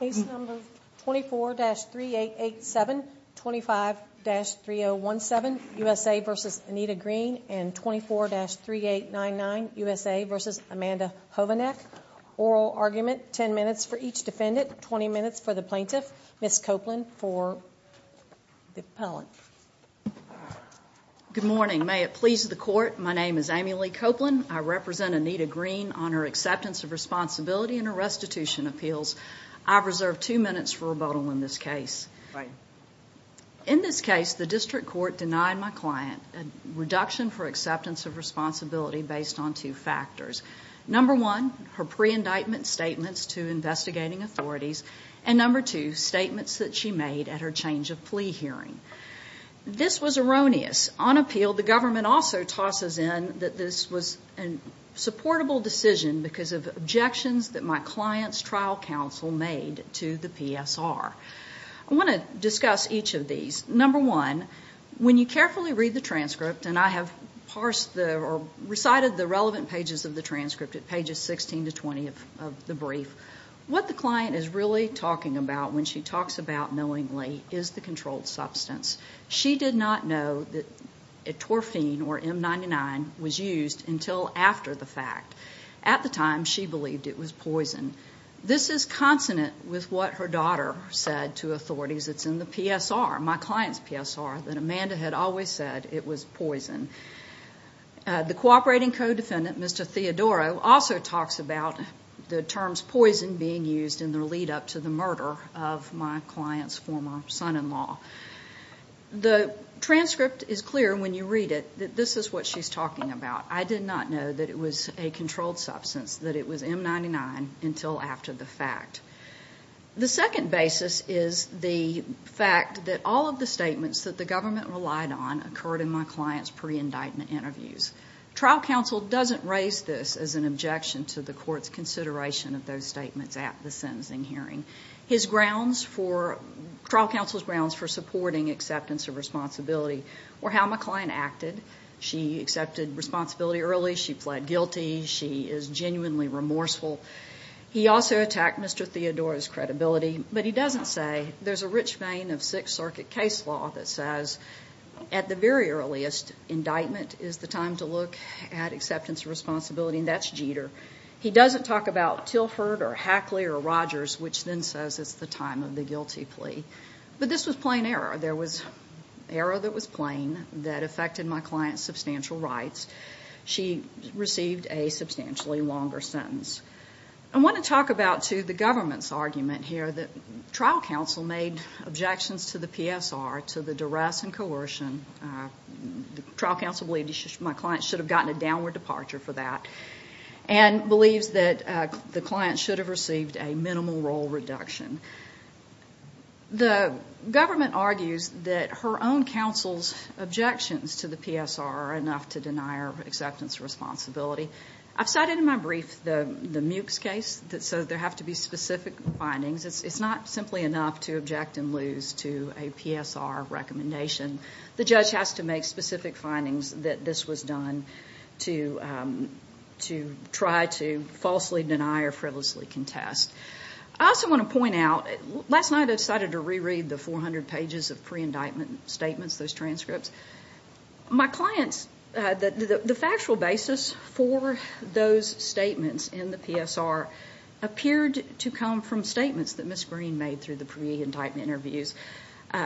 Case number 24-3887, 25-3017, USA v. Anita Green, and 24-3899, USA v. Amanda Hovanec. Oral argument, 10 minutes for each defendant, 20 minutes for the plaintiff. Ms. Copeland for the appellant. Good morning. May it please the Court, my name is Amy Lee Copeland. I represent Anita Green on her acceptance of responsibility and her restitution appeals. I've reserved two minutes for rebuttal in this case. In this case, the district court denied my client a reduction for acceptance of responsibility based on two factors. Number one, her pre-indictment statements to investigating authorities. And number two, statements that she made at her change of plea hearing. This was erroneous. On appeal, the government also tosses in that this was a supportable decision because of objections that my client's trial counsel made to the PSR. I want to discuss each of these. Number one, when you carefully read the transcript, and I have parsed or recited the relevant pages of the transcript at pages 16 to 20 of the brief, what the client is really talking about when she talks about knowingly is the controlled substance. She did not know that etorphine, or M99, was used until after the fact. At the time, she believed it was poison. This is consonant with what her daughter said to authorities. It's in the PSR, my client's PSR, that Amanda had always said it was poison. The cooperating co-defendant, Mr. Theodoro, also talks about the terms poison being used in the lead-up to the murder of my client's former son-in-law. The transcript is clear when you read it. This is what she's talking about. I did not know that it was a controlled substance, that it was M99, until after the fact. The second basis is the fact that all of the statements that the government relied on occurred in my client's pre-indictment interviews. Trial counsel doesn't raise this as an objection to the court's consideration of those statements at the sentencing hearing. His grounds for, trial counsel's grounds for supporting acceptance of responsibility were how my client acted. She accepted responsibility early. She pled guilty. She is genuinely remorseful. He also attacked Mr. Theodoro's credibility, but he doesn't say. There's a rich vein of Sixth Circuit case law that says at the very earliest, indictment is the time to look at acceptance of responsibility, and that's Jeter. He doesn't talk about Tilford or Hackley or Rogers, which then says it's the time of the guilty plea. But this was plain error. There was error that was plain that affected my client's substantial rights. She received a substantially longer sentence. I want to talk about, too, the government's argument here that trial counsel made objections to the PSR, to the duress and coercion. Trial counsel believed my client should have gotten a downward departure for that and believes that the client should have received a minimal role reduction. The government argues that her own counsel's objections to the PSR are enough to deny her acceptance of responsibility. I've cited in my brief the Mukes case, so there have to be specific findings. It's not simply enough to object and lose to a PSR recommendation. The judge has to make specific findings that this was done to try to falsely deny or frivolously contest. I also want to point out, last night I decided to reread the 400 pages of pre-indictment statements, those transcripts. My client's factual basis for those statements in the PSR appeared to come from statements that Ms. Green made through the pre-indictment interviews,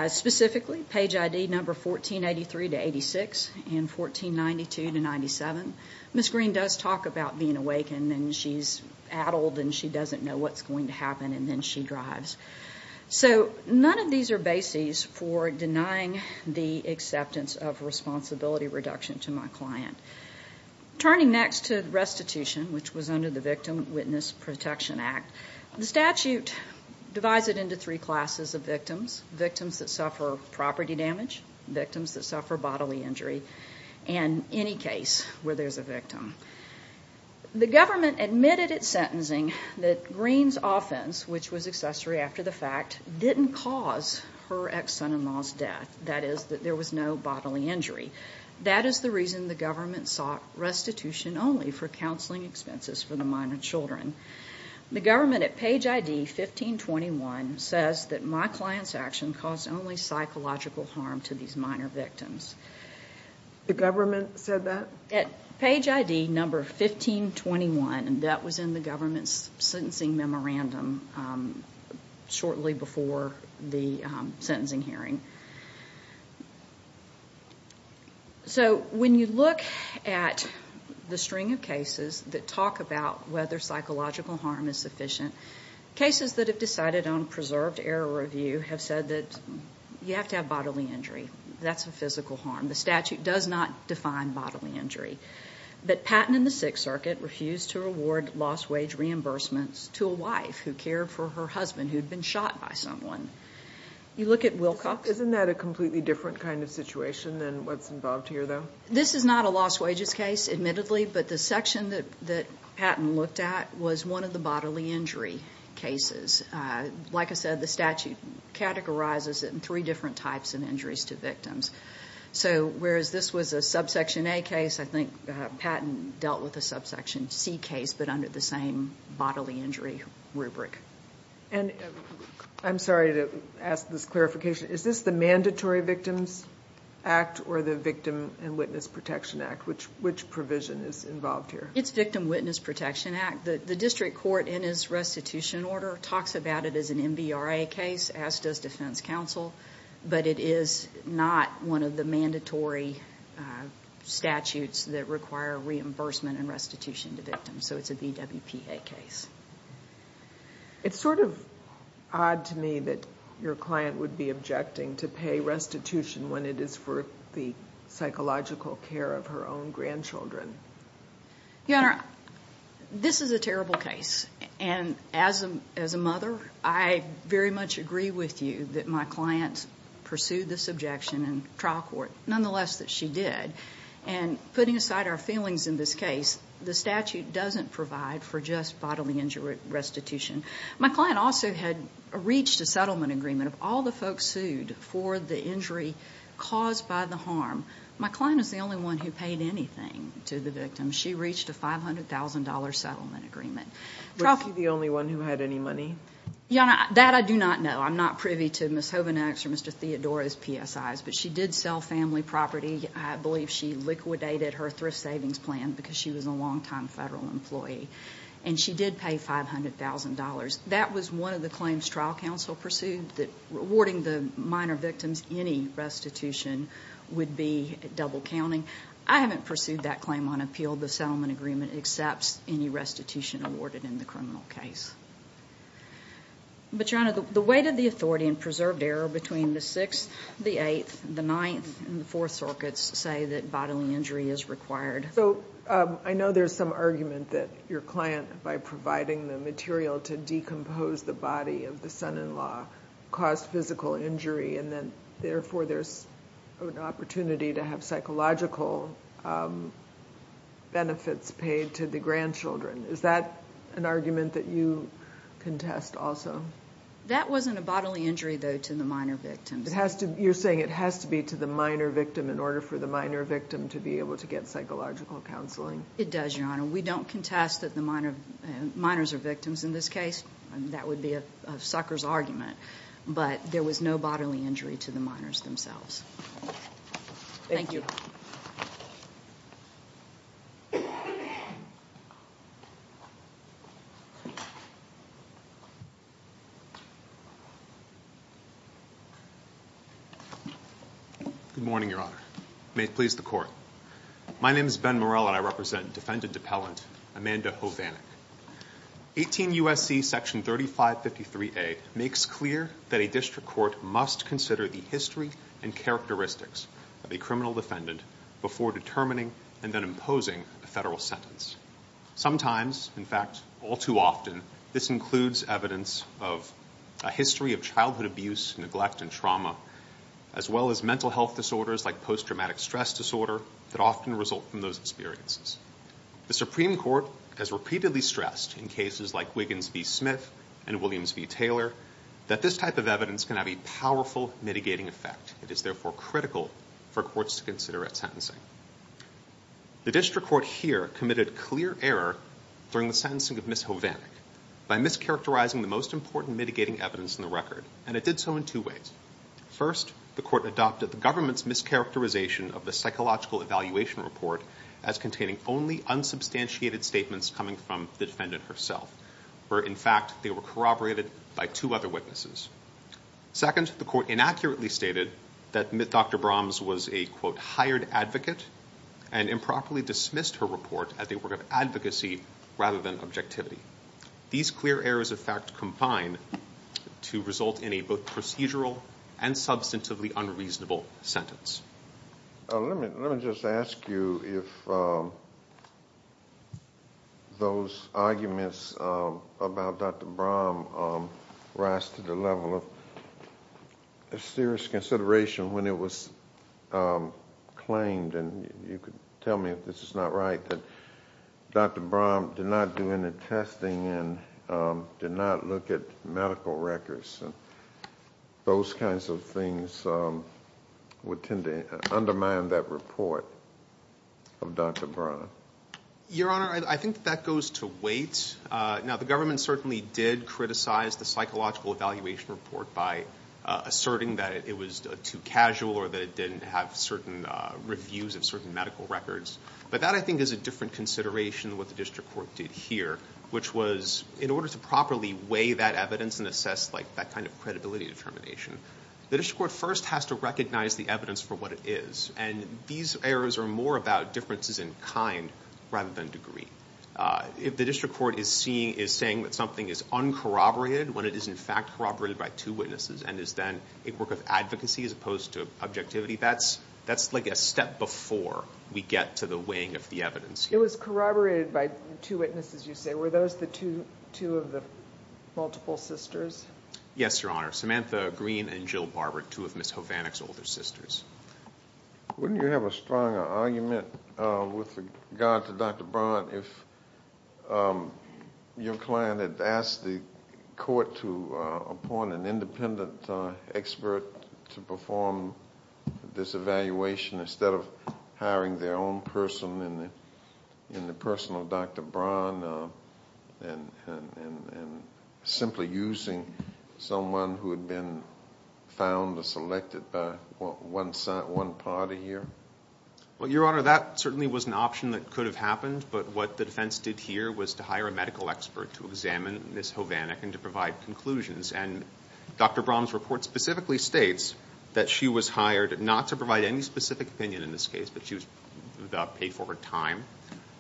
specifically page ID number 1483-86 and 1492-97. Ms. Green does talk about being awakened and she's addled and she doesn't know what's going to happen and then she drives. So none of these are bases for denying the acceptance of responsibility reduction to my client. Turning next to restitution, which was under the Victim Witness Protection Act, the statute divides it into three classes of victims, victims that suffer property damage, victims that suffer bodily injury, and any case where there's a victim. The government admitted at sentencing that Green's offense, which was accessory after the fact, didn't cause her ex-son-in-law's death, that is, that there was no bodily injury. That is the reason the government sought restitution only for counseling expenses for the minor children. The government at page ID 1521 says that my client's action caused only psychological harm to these minor victims. The government said that? At page ID number 1521, and that was in the government's sentencing memorandum shortly before the sentencing hearing. So when you look at the string of cases that talk about whether psychological harm is sufficient, cases that have decided on preserved error review have said that you have to have bodily injury. That's a physical harm. The statute does not define bodily injury. But Patton and the Sixth Circuit refused to reward lost wage reimbursements to a wife who cared for her husband who had been shot by someone. You look at Wilcox. Isn't that a completely different kind of situation than what's involved here, though? This is not a lost wages case, admittedly, but the section that Patton looked at was one of the bodily injury cases. Like I said, the statute categorizes it in three different types of injuries to victims. So whereas this was a subsection A case, I think Patton dealt with a subsection C case, but under the same bodily injury rubric. I'm sorry to ask this clarification. Is this the Mandatory Victims Act or the Victim and Witness Protection Act? Which provision is involved here? It's Victim Witness Protection Act. The district court, in its restitution order, talks about it as an MBRA case, as does defense counsel, but it is not one of the mandatory statutes that require reimbursement and restitution to victims. So it's a VWPA case. It's sort of odd to me that your client would be objecting to pay restitution when it is for the psychological care of her own grandchildren. Your Honor, this is a terrible case, and as a mother, I very much agree with you that my client pursued this objection in trial court, nonetheless that she did, and putting aside our feelings in this case, the statute doesn't provide for just bodily injury restitution. My client also had reached a settlement agreement. Of all the folks sued for the injury caused by the harm, my client is the only one who paid anything to the victim. She reached a $500,000 settlement agreement. Was she the only one who had any money? Your Honor, that I do not know. I'm not privy to Ms. Hovindak's or Mr. Theodore's PSIs, but she did sell family property. I believe she liquidated her thrift savings plan because she was a longtime federal employee, and she did pay $500,000. That was one of the claims trial counsel pursued, that awarding the minor victims any restitution would be double counting. I haven't pursued that claim on appeal. The settlement agreement accepts any restitution awarded in the criminal case. But, Your Honor, the weight of the authority and preserved error between the Sixth, the Eighth, the Ninth, and the Fourth Circuits say that bodily injury is required. So I know there's some argument that your client, by providing the material to decompose the body of the son-in-law, caused physical injury, and then therefore there's an opportunity to have psychological benefits paid to the grandchildren. Is that an argument that you contest also? That wasn't a bodily injury, though, to the minor victims. You're saying it has to be to the minor victim in order for the minor victim to be able to get psychological counseling. It does, Your Honor. We don't contest that the minors are victims in this case. That would be a sucker's argument. But there was no bodily injury to the minors themselves. Thank you. Good morning, Your Honor. May it please the Court. My name is Ben Morell, and I represent Defendant Appellant Amanda Hovanek. 18 U.S.C. Section 3553A makes clear that a district court must consider the history and characteristics of a criminal defendant before determining and then imposing a federal sentence. Sometimes, in fact, all too often, this includes evidence of a history of childhood abuse, neglect, and trauma, as well as mental health disorders like post-traumatic stress disorder that often result from those experiences. The Supreme Court has repeatedly stressed in cases like Wiggins v. Smith and Williams v. Taylor that this type of evidence can have a powerful mitigating effect. It is, therefore, critical for courts to consider at sentencing. The district court here committed clear error during the sentencing of Ms. Hovanek by mischaracterizing the most important mitigating evidence in the record, and it did so in two ways. First, the court adopted the government's mischaracterization of the psychological evaluation report as containing only unsubstantiated statements coming from the defendant herself, where, in fact, they were corroborated by two other witnesses. Second, the court inaccurately stated that Dr. Brahms was a, quote, hired advocate and improperly dismissed her report as a work of advocacy rather than objectivity. These clear errors of fact combine to result in a both procedural and substantively unreasonable sentence. Let me just ask you if those arguments about Dr. Brahms rise to the level of serious consideration when it was claimed, and you could tell me if this is not right, that Dr. Brahms did not do any testing and did not look at medical records. Those kinds of things would tend to undermine that report of Dr. Brahms. Your Honor, I think that goes to weight. Now, the government certainly did criticize the psychological evaluation report by asserting that it was too casual or that it didn't have certain reviews of certain medical records. But that, I think, is a different consideration than what the district court did here, which was in order to properly weigh that evidence and assess that kind of credibility determination, the district court first has to recognize the evidence for what it is. And these errors are more about differences in kind rather than degree. If the district court is saying that something is uncorroborated when it is, in fact, corroborated by two witnesses and is then a work of advocacy as opposed to objectivity, that's like a step before we get to the weighing of the evidence. It was corroborated by two witnesses, you say. Were those the two of the multiple sisters? Yes, Your Honor. Samantha Green and Jill Barber, two of Ms. Hovannik's older sisters. Wouldn't you have a stronger argument with regard to Dr. Brahms if your client had asked the court to appoint an independent expert to perform this evaluation instead of hiring their own person in the personal of Dr. Brahm and simply using someone who had been found or selected by one party here? Well, Your Honor, that certainly was an option that could have happened, but what the defense did here was to hire a medical expert to examine Ms. Hovannik and to provide conclusions. And Dr. Brahms' report specifically states that she was hired not to provide any specific opinion in this case, but she was paid for her time,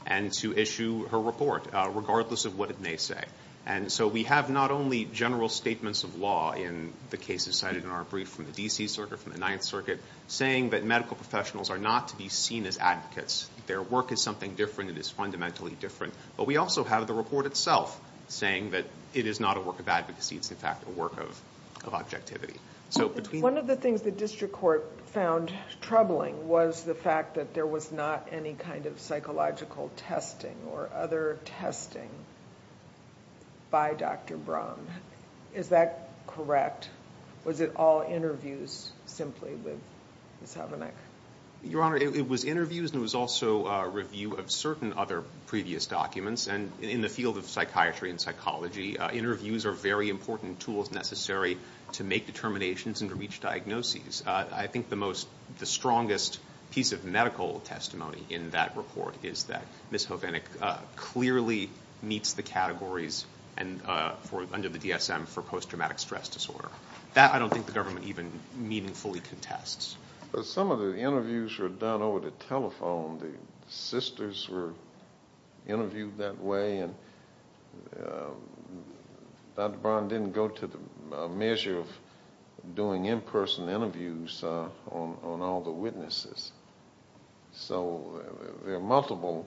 and to issue her report regardless of what it may say. And so we have not only general statements of law in the cases cited in our brief from the D.C. Circuit, from the Ninth Circuit, saying that medical professionals are not to be seen as advocates. Their work is something different. It is fundamentally different. But we also have the report itself saying that it is not a work of advocacy. It's, in fact, a work of objectivity. One of the things the district court found troubling was the fact that there was not any kind of psychological testing or other testing by Dr. Brahm. Is that correct? Was it all interviews simply with Ms. Hovannik? Your Honor, it was interviews, and it was also a review of certain other previous documents. And in the field of psychiatry and psychology, interviews are very important tools necessary to make determinations and to reach diagnoses. I think the strongest piece of medical testimony in that report is that Ms. Hovannik clearly meets the categories under the DSM for post-traumatic stress disorder. That I don't think the government even meaningfully contests. Some of the interviews were done over the telephone. The sisters were interviewed that way, and Dr. Brahm didn't go to the measure of doing in-person interviews on all the witnesses. So there are multiple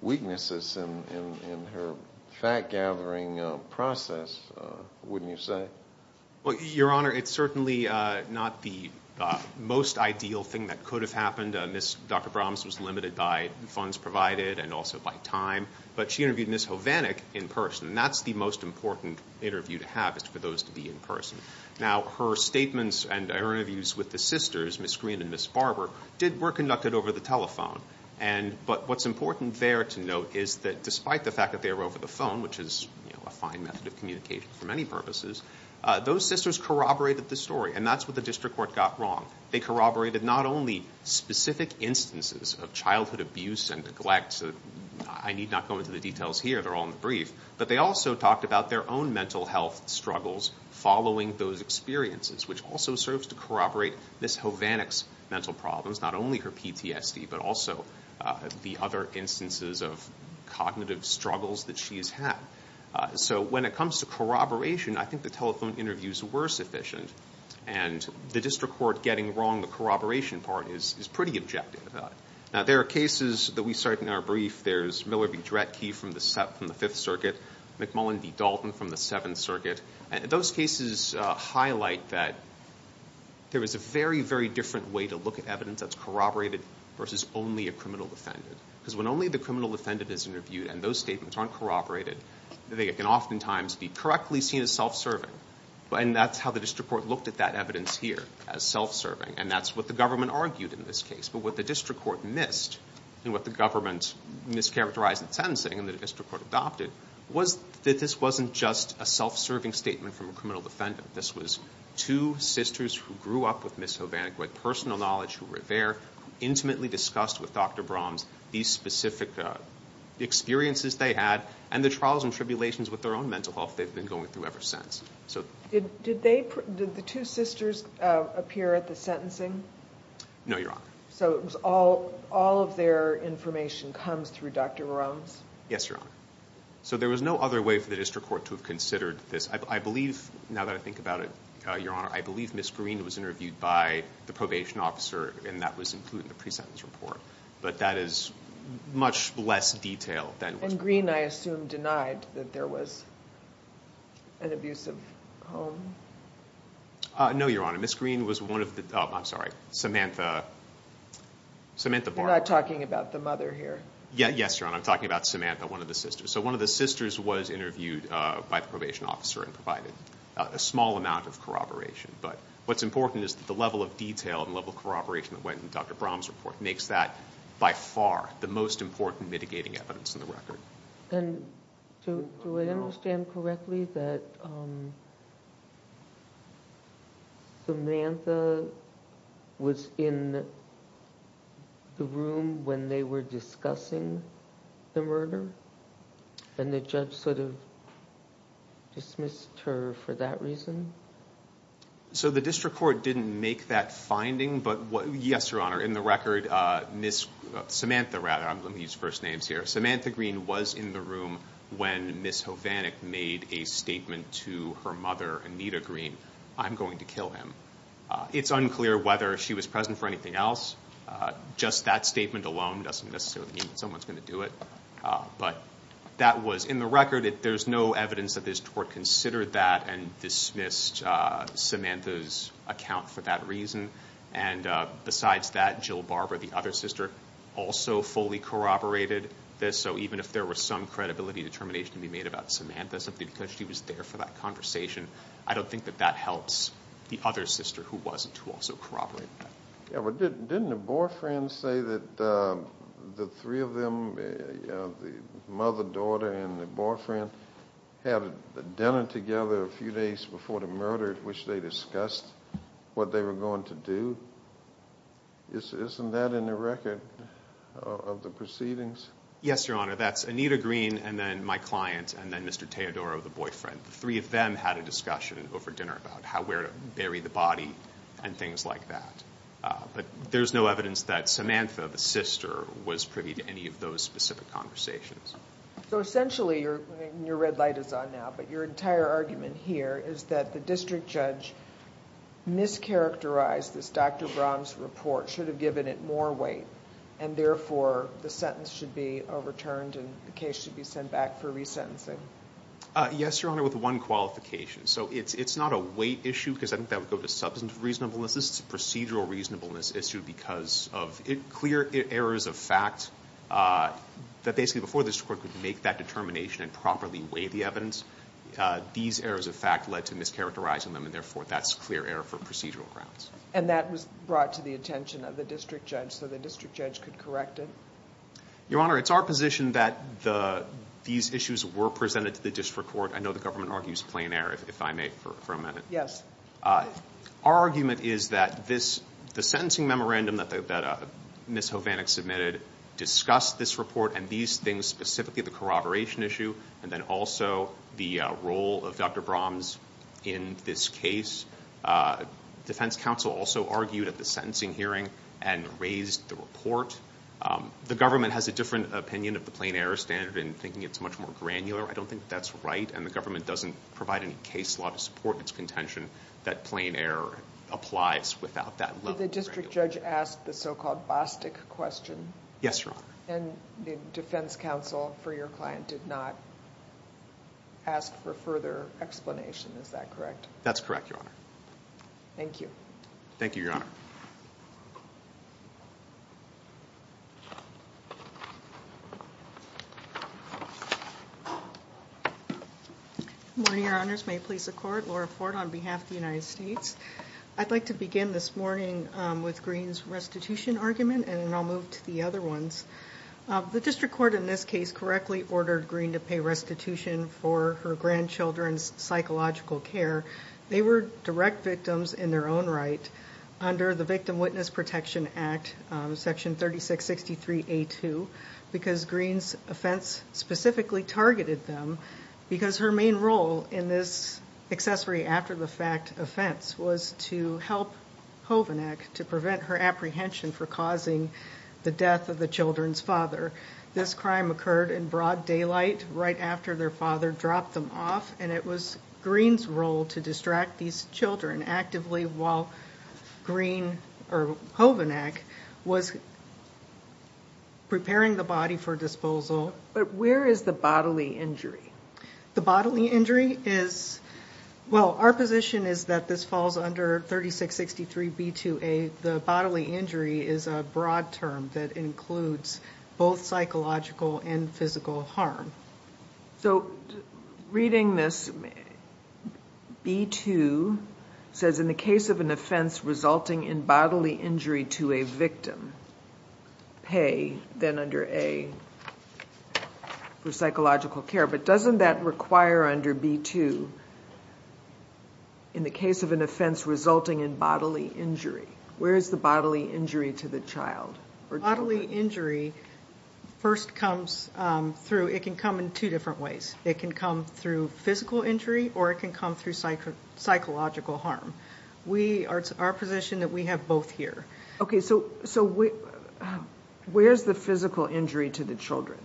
weaknesses in her fact-gathering process, wouldn't you say? Your Honor, it's certainly not the most ideal thing that could have happened. Dr. Brahms was limited by funds provided and also by time. But she interviewed Ms. Hovannik in person, and that's the most important interview to have is for those to be in person. Now, her statements and her interviews with the sisters, Ms. Green and Ms. Barber, were conducted over the telephone. But what's important there to note is that despite the fact that they were over the phone, which is a fine method of communication for many purposes, those sisters corroborated the story, and that's what the district court got wrong. They corroborated not only specific instances of childhood abuse and neglect. I need not go into the details here. They're all in the brief. But they also talked about their own mental health struggles following those experiences, which also serves to corroborate Ms. Hovannik's mental problems, not only her PTSD, but also the other instances of cognitive struggles that she has had. So when it comes to corroboration, I think the telephone interviews were sufficient, and the district court getting wrong the corroboration part is pretty objective. Now, there are cases that we cite in our brief. There's Miller v. Dretke from the Fifth Circuit, McMullen v. Dalton from the Seventh Circuit. Those cases highlight that there is a very, very different way to look at evidence that's corroborated versus only a criminal defendant, because when only the criminal defendant is interviewed and those statements aren't corroborated, they can oftentimes be correctly seen as self-serving, and that's how the district court looked at that evidence here as self-serving, and that's what the government argued in this case. But what the district court missed and what the government mischaracterized in sentencing and the district court adopted was that this wasn't just a self-serving statement from a criminal defendant. This was two sisters who grew up with Ms. Hovannik, with personal knowledge who were there, who intimately discussed with Dr. Brahms these specific experiences they had and the trials and tribulations with their own mental health they've been going through ever since. Did the two sisters appear at the sentencing? No, Your Honor. So all of their information comes through Dr. Brahms? Yes, Your Honor. So there was no other way for the district court to have considered this. I believe, now that I think about it, Your Honor, I believe Ms. Green was interviewed by the probation officer and that was included in the pre-sentence report, but that is much less detail than was provided. And Green, I assume, denied that there was an abusive home? No, Your Honor. Ms. Green was one of the, oh, I'm sorry, Samantha, Samantha Bahr. You're not talking about the mother here. Yes, Your Honor. I'm talking about Samantha, one of the sisters. So one of the sisters was interviewed by the probation officer and provided a small amount of corroboration. But what's important is that the level of detail and the level of corroboration that went in Dr. Brahms' report makes that by far the most important mitigating evidence in the record. And do I understand correctly that Samantha was in the room when they were discussing the murder and the judge sort of dismissed her for that reason? So the district court didn't make that finding, but yes, Your Honor, in the record, Samantha, I'm going to use first names here, Samantha Green was in the room when Ms. Hovanek made a statement to her mother, Anita Green, I'm going to kill him. It's unclear whether she was present for anything else. Just that statement alone doesn't necessarily mean that someone's going to do it. But that was in the record. There's no evidence that this court considered that and dismissed Samantha's account for that reason. And besides that, Jill Barber, the other sister, also fully corroborated this. So even if there was some credibility determination to be made about Samantha, simply because she was there for that conversation, I don't think that that helps the other sister who wasn't, who also corroborated that. Didn't the boyfriend say that the three of them, the mother, daughter, and the boyfriend, had dinner together a few days before the murder, which they discussed what they were going to do? Isn't that in the record of the proceedings? Yes, Your Honor. That's Anita Green and then my client and then Mr. Teodoro, the boyfriend. The three of them had a discussion over dinner about where to bury the body and things like that. But there's no evidence that Samantha, the sister, was privy to any of those specific conversations. So essentially, and your red light is on now, but your entire argument here is that the district judge mischaracterized this Dr. Brown's report, should have given it more weight, and therefore the sentence should be overturned and the case should be sent back for resentencing. Yes, Your Honor, with one qualification. So it's not a weight issue because I think that would go to substantive reasonableness. This is a procedural reasonableness issue because of clear errors of fact that basically before this court could make that determination and properly weigh the evidence, these errors of fact led to mischaracterizing them, and therefore that's clear error for procedural grounds. And that was brought to the attention of the district judge so the district judge could correct it? Your Honor, it's our position that these issues were presented to the district court. I know the government argues plain error, if I may, for a minute. Yes. Our argument is that the sentencing memorandum that Ms. Hovannik submitted discussed this report and these things specifically, the corroboration issue, and then also the role of Dr. Brahms in this case. Defense counsel also argued at the sentencing hearing and raised the report. The government has a different opinion of the plain error standard in thinking it's much more granular. I don't think that's right, and the government doesn't provide any case law to support its contention that plain error applies without that level of granularity. Did the district judge ask the so-called Bostic question? Yes, Your Honor. And the defense counsel for your client did not ask for further explanation, is that correct? That's correct, Your Honor. Thank you. Thank you, Your Honor. Good morning, Your Honors. May it please the Court, Laura Ford on behalf of the United States. I'd like to begin this morning with Greene's restitution argument, and then I'll move to the other ones. The district court in this case correctly ordered Greene to pay restitution for her grandchildren's psychological care. They were direct victims in their own right under the Victim Witness Protection Act, Section 3663A2, because Greene's offense specifically targeted them, because her main role in this accessory after-the-fact offense was to help Hovenak to prevent her apprehension for causing the death of the children's father. This crime occurred in broad daylight right after their father dropped them off, and it was Greene's role to distract these children actively while Hovenak was preparing the body for disposal. But where is the bodily injury? The bodily injury is, well, our position is that this falls under 3663B2A. The bodily injury is a broad term that includes both psychological and physical harm. So reading this, B2 says, in the case of an offense resulting in bodily injury to a victim, pay, then under A, for psychological care. But doesn't that require under B2, in the case of an offense resulting in bodily injury, where is the bodily injury to the child? The bodily injury first comes through, it can come in two different ways. It can come through physical injury, or it can come through psychological harm. It's our position that we have both here. Okay, so where's the physical injury to the children?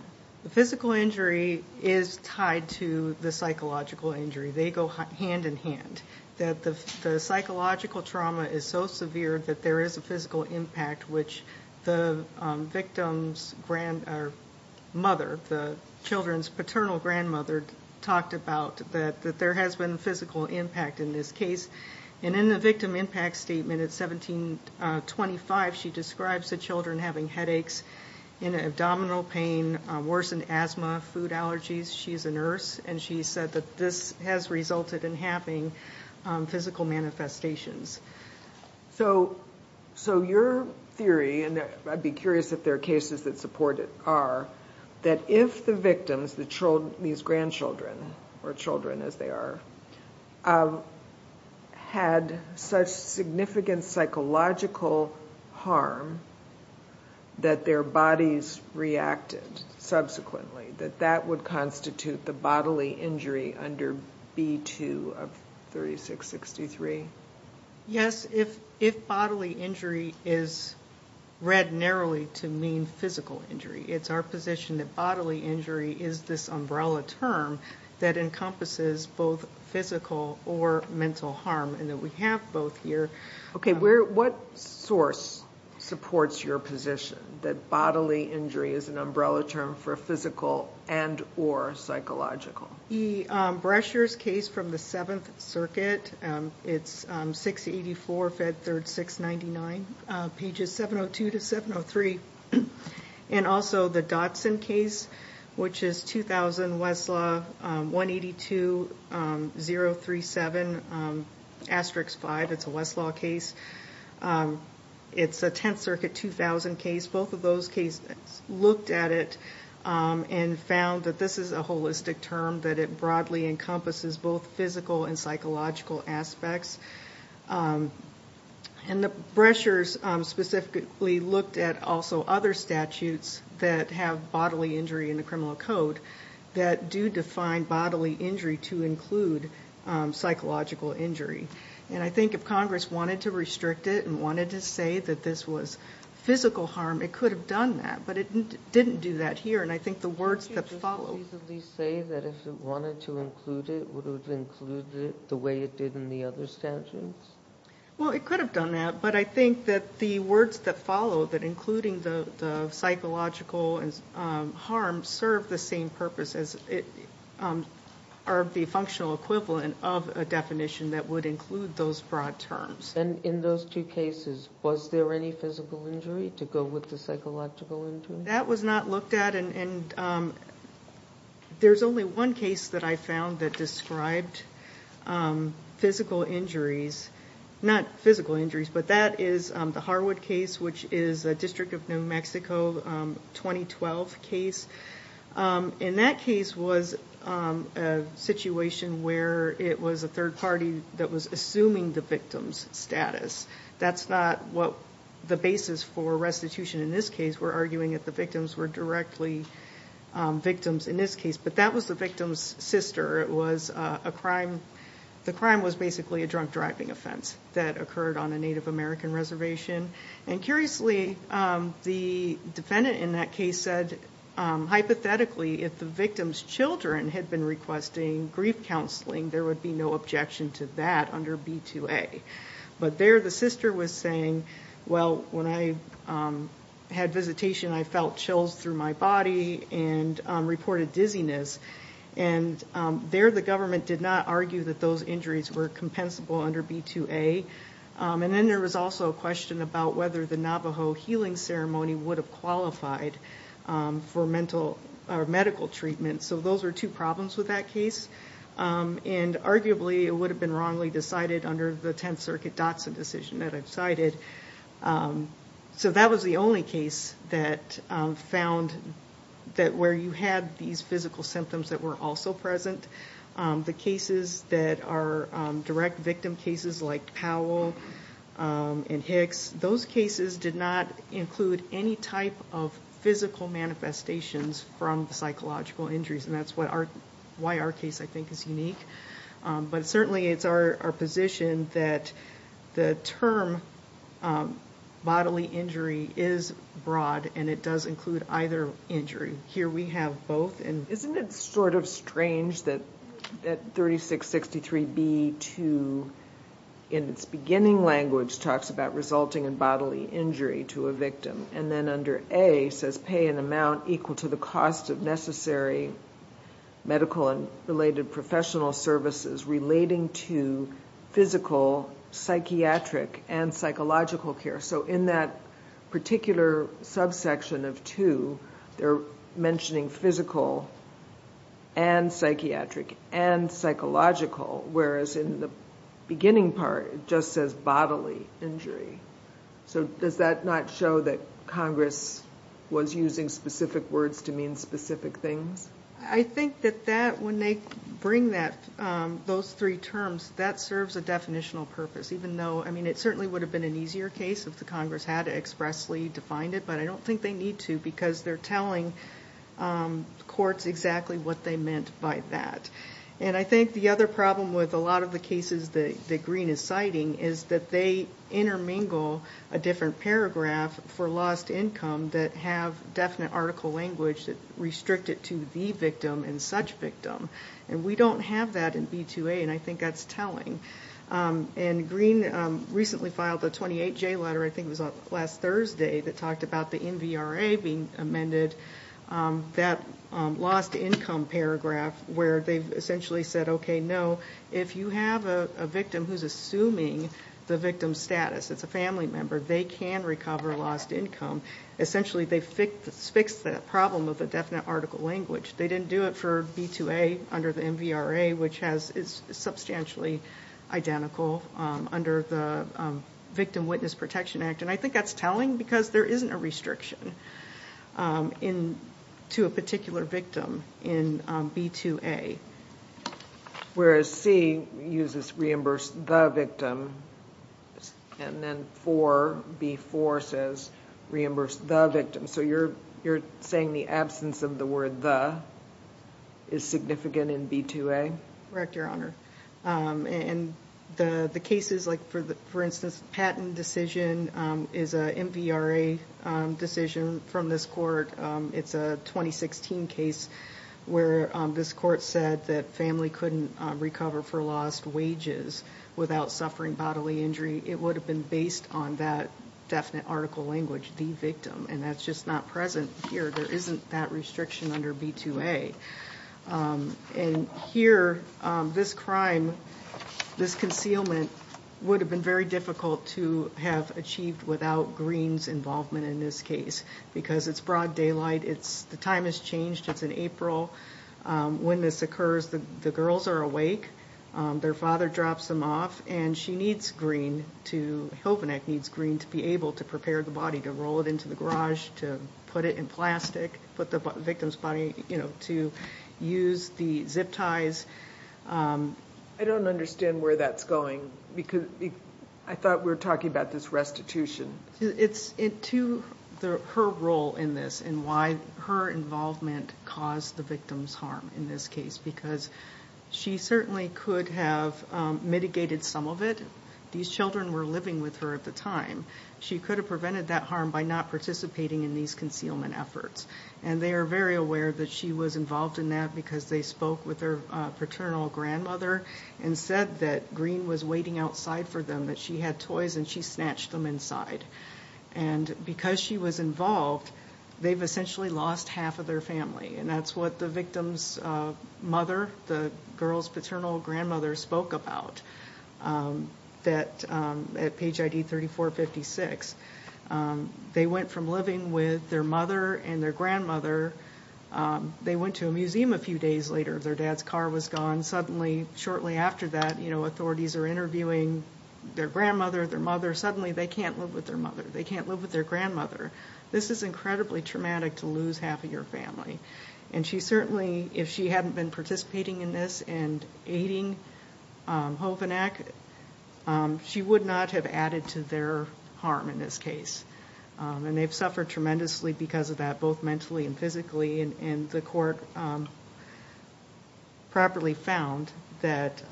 The physical injury is tied to the psychological injury. They go hand-in-hand, that the psychological trauma is so severe that there is a physical impact, which the victim's mother, the children's paternal grandmother, talked about that there has been physical impact in this case. And in the victim impact statement at 1725, she describes the children having headaches, abdominal pain, worsened asthma, food allergies. She's a nurse, and she said that this has resulted in having physical manifestations. So your theory, and I'd be curious if there are cases that support it, are that if the victims, these grandchildren, or children as they are, had such significant psychological harm that their bodies reacted subsequently, that that would constitute the bodily injury under B-2 of 3663? Yes, if bodily injury is read narrowly to mean physical injury, it's our position that bodily injury is this umbrella term that encompasses both physical or mental harm, and that we have both here. Okay, what source supports your position that bodily injury is an umbrella term for physical and or psychological? The Brescher's case from the Seventh Circuit, it's 684 Fed 3rd 699, pages 702 to 703. And also the Dotson case, which is 2000 Westlaw 182037, asterisk 5, it's a Westlaw case. It's a Tenth Circuit 2000 case. Both of those cases looked at it and found that this is a holistic term, that it broadly encompasses both physical and psychological aspects. And the Brescher's specifically looked at also other statutes that have bodily injury in the criminal code that do define bodily injury to include psychological injury. And I think if Congress wanted to restrict it and wanted to say that this was physical harm, it could have done that. But it didn't do that here. And I think the words that follow... Wouldn't you just reasonably say that if it wanted to include it, would it have included it the way it did in the other statutes? Well, it could have done that. But I think that the words that follow, that including the psychological harm, serve the same purpose as the functional equivalent of a definition that would include those broad terms. And in those two cases, was there any physical injury to go with the psychological injury? That was not looked at. And there's only one case that I found that described physical injuries. Not physical injuries, but that is the Harwood case, which is a District of New Mexico 2012 case. And that case was a situation where it was a third party that was assuming the victim's status. That's not what the basis for restitution in this case. We're arguing that the victims were directly victims in this case. But that was the victim's sister. The crime was basically a drunk driving offense that occurred on a Native American reservation. And curiously, the defendant in that case said, hypothetically, if the victim's children had been requesting grief counseling, there would be no objection to that under B2A. But there the sister was saying, well, when I had visitation, I felt chills through my body and reported dizziness. And there the government did not argue that those injuries were compensable under B2A. And then there was also a question about whether the Navajo healing ceremony would have qualified for medical treatment. So those were two problems with that case. And arguably, it would have been wrongly decided under the Tenth Circuit Dotson decision that I've cited. So that was the only case that found that where you had these physical symptoms that were also present, the cases that are direct victim cases like Powell and Hicks, those cases did not include any type of physical manifestations from psychological injuries. And that's why our case, I think, is unique. But certainly it's our position that the term bodily injury is broad, and it does include either injury. Here we have both. And isn't it sort of strange that 3663B2, in its beginning language, talks about resulting in bodily injury to a victim, and then under A says pay an amount equal to the cost of necessary medical and related professional services relating to physical, psychiatric, and psychological care. So in that particular subsection of 2, they're mentioning physical and psychiatric and psychological, whereas in the beginning part it just says bodily injury. So does that not show that Congress was using specific words to mean specific things? I think that when they bring those three terms, that serves a definitional purpose, even though it certainly would have been an easier case if the Congress had expressly defined it, but I don't think they need to because they're telling courts exactly what they meant by that. And I think the other problem with a lot of the cases that Green is citing is that they intermingle a different paragraph for lost income that have definite article language that restrict it to the victim and such victim. And we don't have that in B2A, and I think that's telling. And Green recently filed a 28J letter, I think it was last Thursday, that talked about the NVRA being amended, that lost income paragraph, where they've essentially said, okay, no, if you have a victim who's assuming the victim's status, it's a family member, they can recover lost income. Essentially, they've fixed that problem of the definite article language. They didn't do it for B2A under the NVRA, which is substantially identical under the Victim Witness Protection Act. And I think that's telling because there isn't a restriction to a particular victim in B2A. Whereas C uses reimburse the victim, and then 4B4 says reimburse the victim. So you're saying the absence of the word the is significant in B2A? Correct, Your Honor. And the cases like, for instance, the Patton decision is an NVRA decision from this court. It's a 2016 case where this court said that family couldn't recover for lost wages without suffering bodily injury. It would have been based on that definite article language, the victim. And that's just not present here. There isn't that restriction under B2A. And here, this crime, this concealment, would have been very difficult to have achieved without Green's involvement in this case. Because it's broad daylight. The time has changed. It's in April. When this occurs, the girls are awake. Their father drops them off. And she needs Green to be able to prepare the body, to roll it into the garage, to put it in plastic, put the victim's body, to use the zip ties. I don't understand where that's going. I thought we were talking about this restitution. It's to her role in this and why her involvement caused the victim's harm in this case. Because she certainly could have mitigated some of it. These children were living with her at the time. She could have prevented that harm by not participating in these concealment efforts. And they are very aware that she was involved in that because they spoke with her paternal grandmother and said that Green was waiting outside for them, that she had toys and she snatched them inside. And because she was involved, they've essentially lost half of their family. And that's what the victim's mother, the girl's paternal grandmother, spoke about at page ID 3456. They went from living with their mother and their grandmother. They went to a museum a few days later. Their dad's car was gone. Suddenly, shortly after that, authorities are interviewing their grandmother, their mother. Suddenly, they can't live with their mother. They can't live with their grandmother. This is incredibly traumatic to lose half of your family. And she certainly, if she hadn't been participating in this and aiding Hovenak, she would not have added to their harm in this case. And they've suffered tremendously because of that, both mentally and physically. And the court properly found that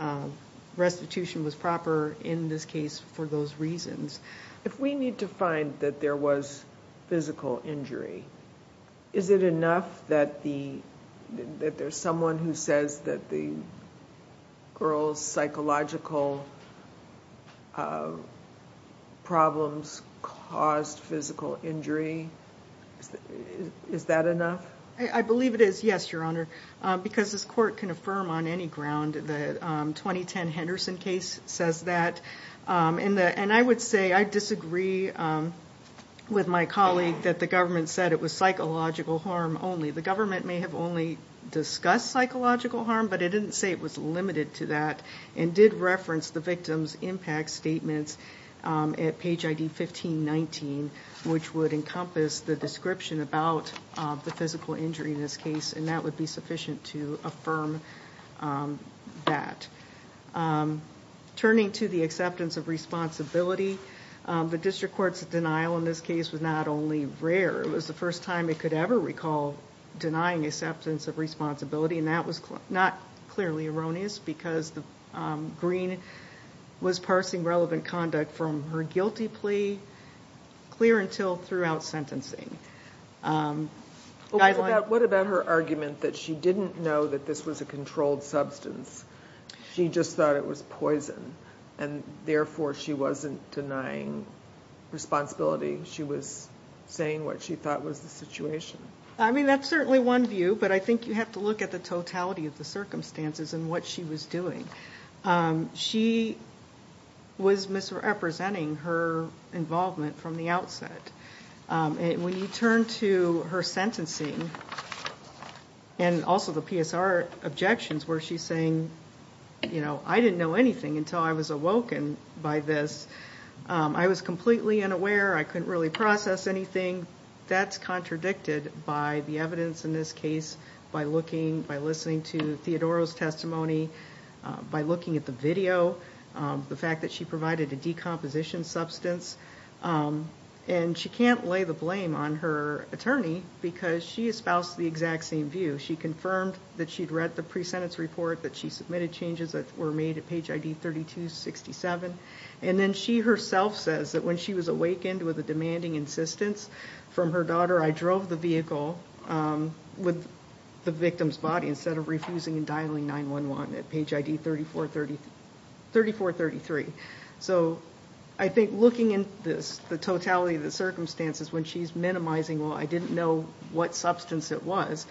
restitution was proper in this case for those reasons. If we need to find that there was physical injury, is it enough that there's someone who says that the girl's psychological problems caused physical injury? Is that enough? I believe it is, yes, Your Honor, because this court can affirm on any ground that the 2010 Henderson case says that. And I would say I disagree with my colleague that the government said it was psychological harm only. The government may have only discussed psychological harm, but it didn't say it was limited to that and did reference the victim's impact statements at page ID 1519, which would encompass the description about the physical injury in this case, and that would be sufficient to affirm that. Turning to the acceptance of responsibility, the district court's denial in this case was not only rare, it was the first time it could ever recall denying acceptance of responsibility, and that was not clearly erroneous because Green was parsing relevant conduct from her guilty plea clear until throughout sentencing. What about her argument that she didn't know that this was a controlled substance? She just thought it was poison, and therefore she wasn't denying responsibility. She was saying what she thought was the situation. I mean, that's certainly one view, but I think you have to look at the totality of the circumstances and what she was doing. She was misrepresenting her involvement from the outset. When you turn to her sentencing and also the PSR objections where she's saying, you know, I didn't know anything until I was awoken by this. I was completely unaware. I couldn't really process anything. That's contradicted by the evidence in this case, by looking, by listening to Theodoro's testimony, by looking at the video, the fact that she provided a decomposition substance, and she can't lay the blame on her attorney because she espoused the exact same view. She confirmed that she'd read the pre-sentence report, that she submitted changes that were made at page ID 3267, and then she herself says that when she was awakened with a demanding insistence from her daughter, I drove the vehicle with the victim's body instead of refusing and dialing 911 at page ID 3433. So I think looking at this, the totality of the circumstances when she's minimizing, well, I didn't know what substance it was.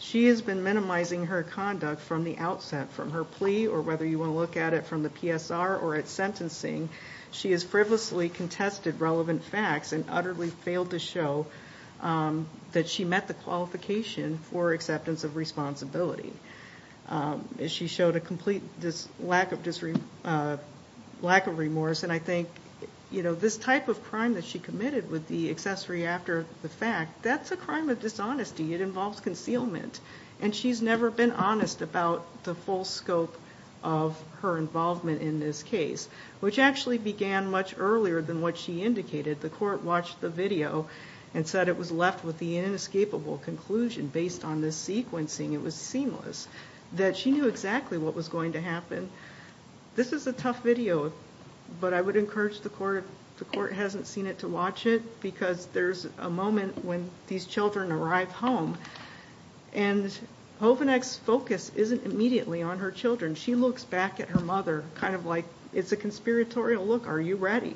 She has been minimizing her conduct from the outset, from her plea, or whether you want to look at it from the PSR or at sentencing. She has frivolously contested relevant facts and utterly failed to show that she met the qualification for acceptance of responsibility. She showed a complete lack of remorse. And I think this type of crime that she committed with the accessory after the fact, that's a crime of dishonesty. It involves concealment. And she's never been honest about the full scope of her involvement in this case, which actually began much earlier than what she indicated. The court watched the video and said it was left with the inescapable conclusion based on this sequencing. It was seamless, that she knew exactly what was going to happen. This is a tough video, but I would encourage the court, if the court hasn't seen it, to watch it, because there's a moment when these children arrive home, and Hovanec's focus isn't immediately on her children. She looks back at her mother kind of like it's a conspiratorial look. Are you ready?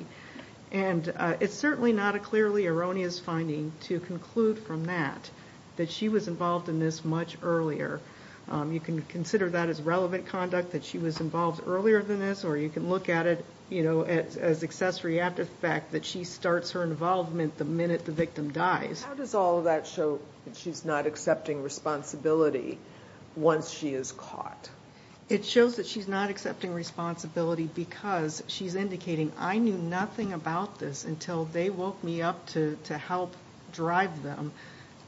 And it's certainly not a clearly erroneous finding to conclude from that that she was involved in this much earlier. You can consider that as relevant conduct, that she was involved earlier than this, or you can look at it as accessory after the fact that she starts her involvement the minute the victim dies. How does all of that show that she's not accepting responsibility once she is caught? It shows that she's not accepting responsibility because she's indicating, I knew nothing about this until they woke me up to help drive them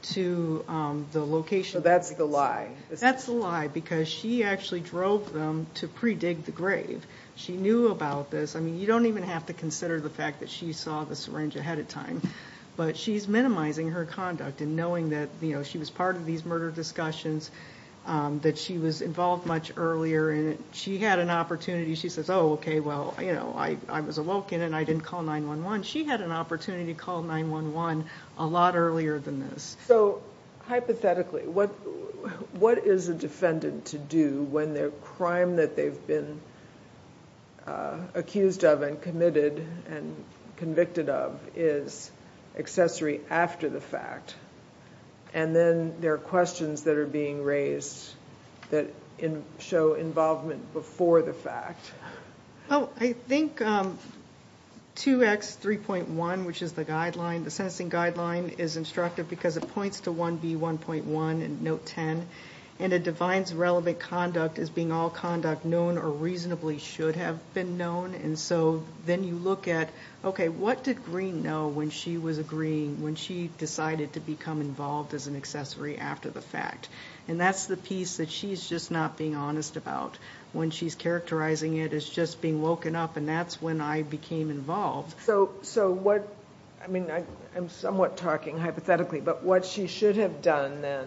to the location. So that's the lie. That's the lie, because she actually drove them to pre-dig the grave. She knew about this. I mean, you don't even have to consider the fact that she saw the syringe ahead of time, but she's minimizing her conduct and knowing that she was part of these murder discussions, that she was involved much earlier, and she had an opportunity. She says, oh, okay, well, you know, I was awoken and I didn't call 911. She had an opportunity to call 911 a lot earlier than this. So hypothetically, what is a defendant to do when their crime that they've been accused of and committed and convicted of is accessory after the fact, and then there are questions that are being raised that show involvement before the fact? I think 2X3.1, which is the guideline, the sentencing guideline, is instructive because it points to 1B1.1 in Note 10, and it defines relevant conduct as being all conduct known or reasonably should have been known. And so then you look at, okay, what did Greene know when she was agreeing, when she decided to become involved as an accessory after the fact? And that's the piece that she's just not being honest about when she's characterizing it as just being woken up, and that's when I became involved. So what, I mean, I'm somewhat talking hypothetically, but what she should have done then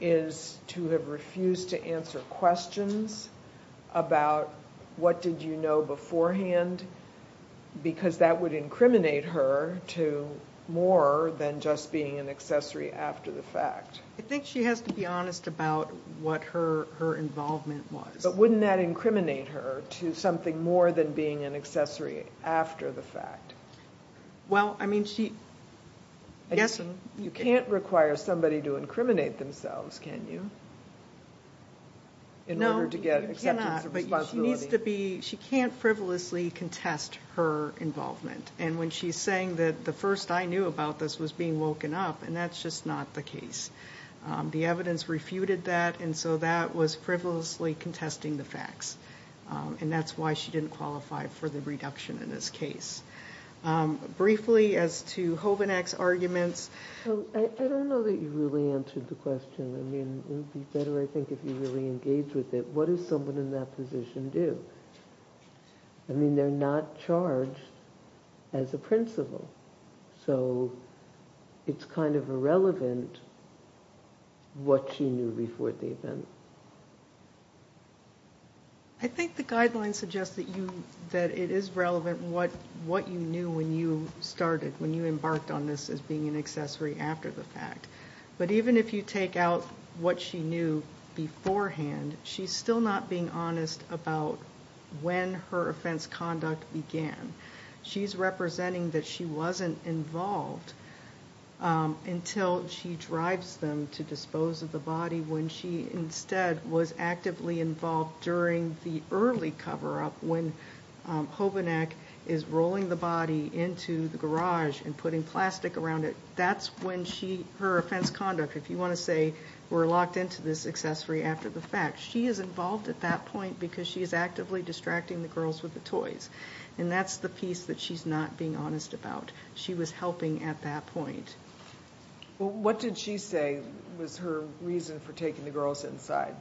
is to have refused to answer questions about what did you know beforehand because that would incriminate her to more than just being an accessory after the fact. I think she has to be honest about what her involvement was. But wouldn't that incriminate her to something more than being an accessory after the fact? Well, I mean, she, yes. You can't require somebody to incriminate themselves, can you, in order to get acceptance of responsibility? She needs to be, she can't frivolously contest her involvement. And when she's saying that the first I knew about this was being woken up, and that's just not the case. The evidence refuted that, and so that was frivolously contesting the facts. And that's why she didn't qualify for the reduction in this case. Briefly, as to Hovenak's arguments. I don't know that you really answered the question. I mean, it would be better, I think, if you really engaged with it. What does someone in that position do? I mean, they're not charged as a principal. So it's kind of irrelevant what she knew before the event. I think the guidelines suggest that it is relevant what you knew when you started, when you embarked on this as being an accessory after the fact. But even if you take out what she knew beforehand, she's still not being honest about when her offense conduct began. She's representing that she wasn't involved until she drives them to dispose of the body when she instead was actively involved during the early cover-up when Hovenak is rolling the body into the garage and putting plastic around it. That's when her offense conduct, if you want to say, were locked into this accessory after the fact. She is involved at that point because she is actively distracting the girls with the toys. And that's the piece that she's not being honest about. She was helping at that point. What did she say was her reason for taking the girls inside?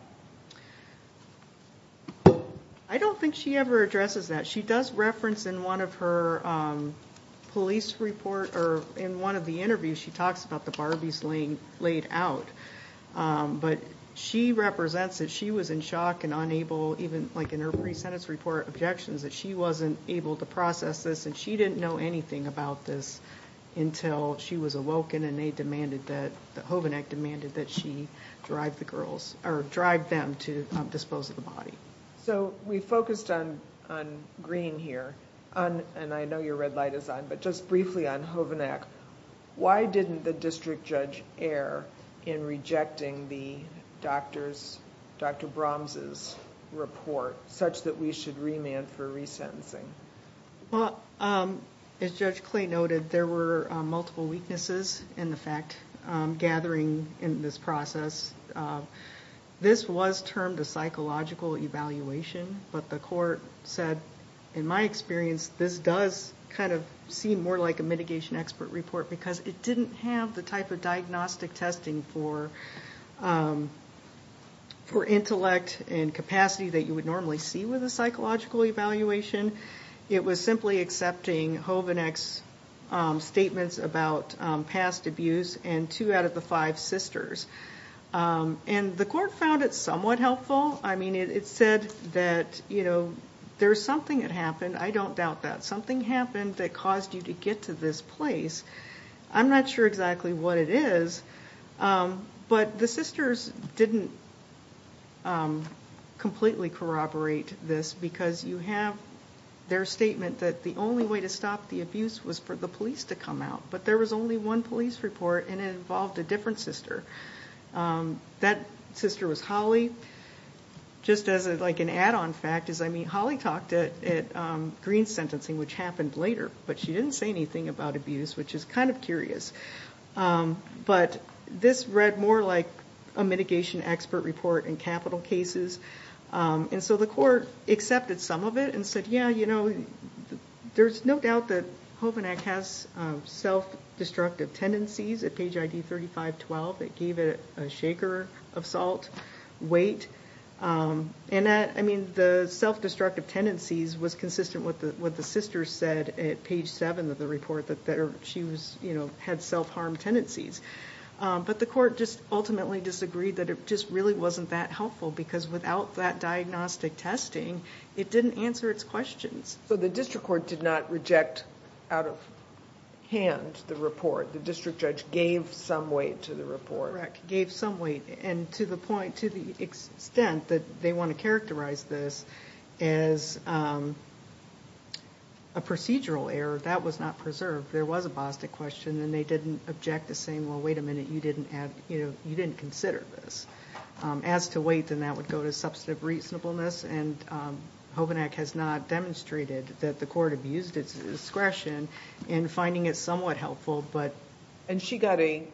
I don't think she ever addresses that. She does reference in one of her police reports or in one of the interviews, she talks about the Barbies laid out. But she represents that she was in shock and unable, even like in her pre-sentence report, objections that she wasn't able to process this. And she didn't know anything about this until she was awoken and they demanded that Hovenak demanded that she drive the girls or drive them to dispose of the body. So we focused on Green here, and I know your red light is on, but just briefly on Hovenak. Why didn't the district judge err in rejecting the doctors, Dr. Brahms's report such that we should remand for resentencing? Well, as Judge Clay noted, there were multiple weaknesses in the fact gathering in this process. This was termed a psychological evaluation, but the court said, in my experience, this does kind of seem more like a mitigation expert report because it didn't have the type of diagnostic testing for intellect and capacity that you would normally see with a psychological evaluation. It was simply accepting Hovenak's statements about past abuse and two out of the five sisters. And the court found it somewhat helpful. I mean, it said that, you know, there's something that happened. I don't doubt that. Something happened that caused you to get to this place. I'm not sure exactly what it is, but the sisters didn't completely corroborate this because you have their statement that the only way to stop the abuse was for the police to come out, but there was only one police report, and it involved a different sister. That sister was Holly. Just as, like, an add-on fact is, I mean, Holly talked at Green's sentencing, which happened later, but she didn't say anything about abuse, which is kind of curious. But this read more like a mitigation expert report in capital cases, and so the court accepted some of it and said, yeah, you know, there's no doubt that Hovenak has self-destructive tendencies at page ID 3512. It gave it a shaker of salt weight. I mean, the self-destructive tendencies was consistent with what the sisters said at page 7 of the report, that she had self-harm tendencies. But the court just ultimately disagreed that it just really wasn't that helpful because without that diagnostic testing, it didn't answer its questions. So the district court did not reject out of hand the report. The district judge gave some weight to the report. Gave some weight, and to the extent that they want to characterize this as a procedural error, that was not preserved. There was a BOSTIC question, and they didn't object to saying, well, wait a minute, you didn't consider this. As to weight, then that would go to substantive reasonableness, and Hovenak has not demonstrated that the court abused its discretion in finding it somewhat helpful. And she got a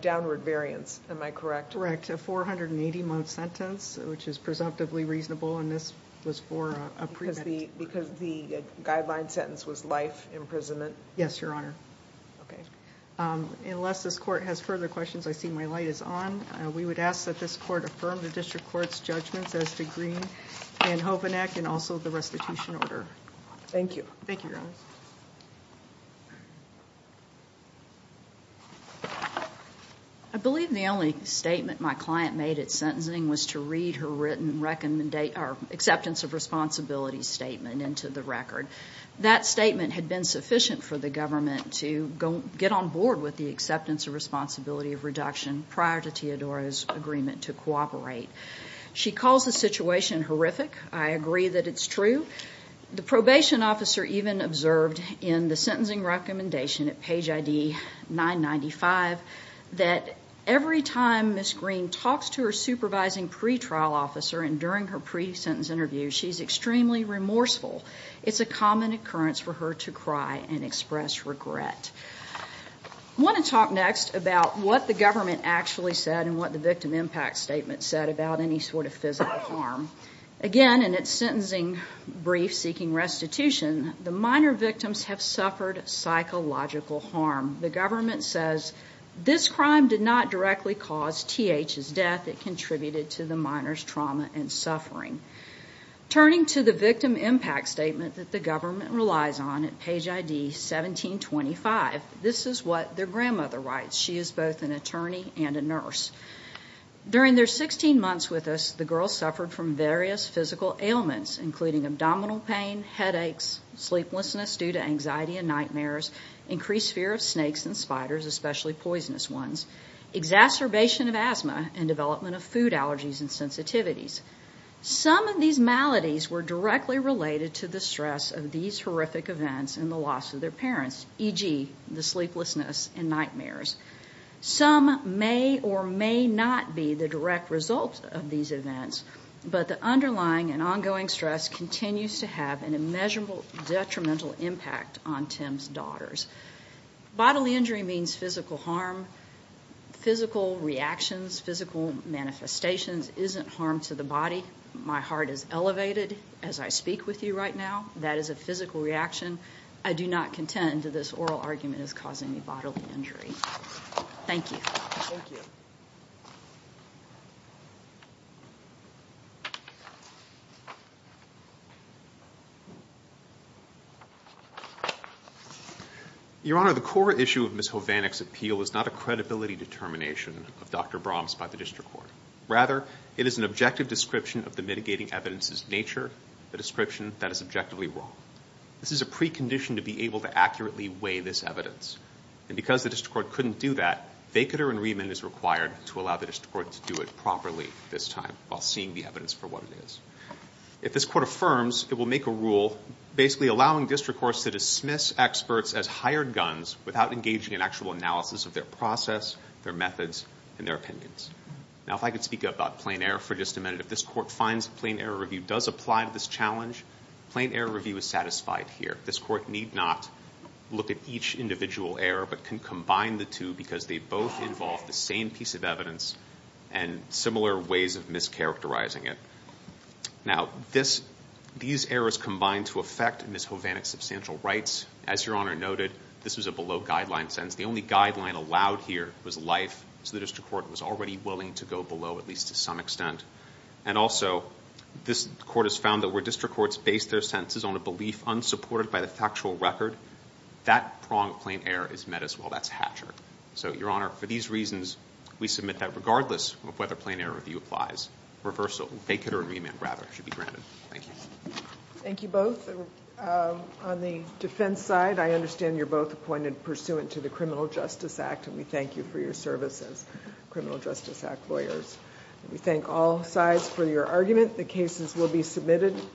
downward variance, am I correct? Correct. A 480-month sentence, which is presumptively reasonable, and this was for a premeditation. Because the guideline sentence was life imprisonment? Yes, Your Honor. Okay. Unless this court has further questions, I see my light is on. We would ask that this court affirm the district court's judgments as to Green and Hovenak and also the restitution order. Thank you. Thank you, Your Honor. I believe the only statement my client made at sentencing was to read her acceptance of responsibility statement into the record. That statement had been sufficient for the government to get on board with the acceptance of responsibility of reduction prior to Teodoro's agreement to cooperate. She calls the situation horrific. I agree that it's true. The probation officer even observed in the sentencing recommendation at page ID 995 that every time Ms. Green talks to her supervising pretrial officer and during her pre-sentence interview, she's extremely remorseful. It's a common occurrence for her to cry and express regret. I want to talk next about what the government actually said and what the victim impact statement said about any sort of physical harm. Again, in its sentencing brief seeking restitution, the minor victims have suffered psychological harm. The government says this crime did not directly cause TH's death. It contributed to the minor's trauma and suffering. Turning to the victim impact statement that the government relies on at page ID 1725, this is what their grandmother writes. She is both an attorney and a nurse. During their 16 months with us, the girls suffered from various physical ailments, including abdominal pain, headaches, sleeplessness due to anxiety and nightmares, increased fear of snakes and spiders, especially poisonous ones, exacerbation of asthma, and development of food allergies and sensitivities. Some of these maladies were directly related to the stress of these horrific events and the loss of their parents, e.g., the sleeplessness and nightmares. Some may or may not be the direct result of these events, but the underlying and ongoing stress continues to have an immeasurable detrimental impact on Tim's daughters. Bodily injury means physical harm. Physical reactions, physical manifestations isn't harm to the body. My heart is elevated as I speak with you right now. That is a physical reaction. I do not contend that this oral argument is causing me bodily injury. Thank you. Thank you. Your Honor, the core issue of Ms. Hovannik's appeal is not a credibility determination of Dr. Brahms by the district court. Rather, it is an objective description of the mitigating evidence's nature, a description that is objectively wrong. This is a precondition to be able to accurately weigh this evidence. And because the district court couldn't do that, vacatur and remand is required to allow the district court to do it properly this time while seeing the evidence for what it is. If this court affirms, it will make a rule basically allowing district courts to dismiss experts as hired guns without engaging in actual analysis of their process, their methods, and their opinions. Now, if I could speak about plain error for just a minute. If this court finds plain error review does apply to this challenge, plain error review is satisfied here. This court need not look at each individual error but can combine the two because they both involve the same piece of evidence and similar ways of mischaracterizing it. Now, these errors combine to affect Ms. Hovannik's substantial rights. As Your Honor noted, this was a below-guideline sentence. The only guideline allowed here was life, so the district court was already willing to go below at least to some extent. And also, this court has found that where district courts base their sentences on a belief unsupported by the factual record, that prong of plain error is met as well. That's Hatcher. So, Your Honor, for these reasons, we submit that regardless of whether plain error review applies, reversal, vacate or remand, rather, should be granted. Thank you. Thank you both. On the defense side, I understand you're both appointed pursuant to the Criminal Justice Act, and we thank you for your service as Criminal Justice Act lawyers. We thank all sides for your argument. The cases will be submitted.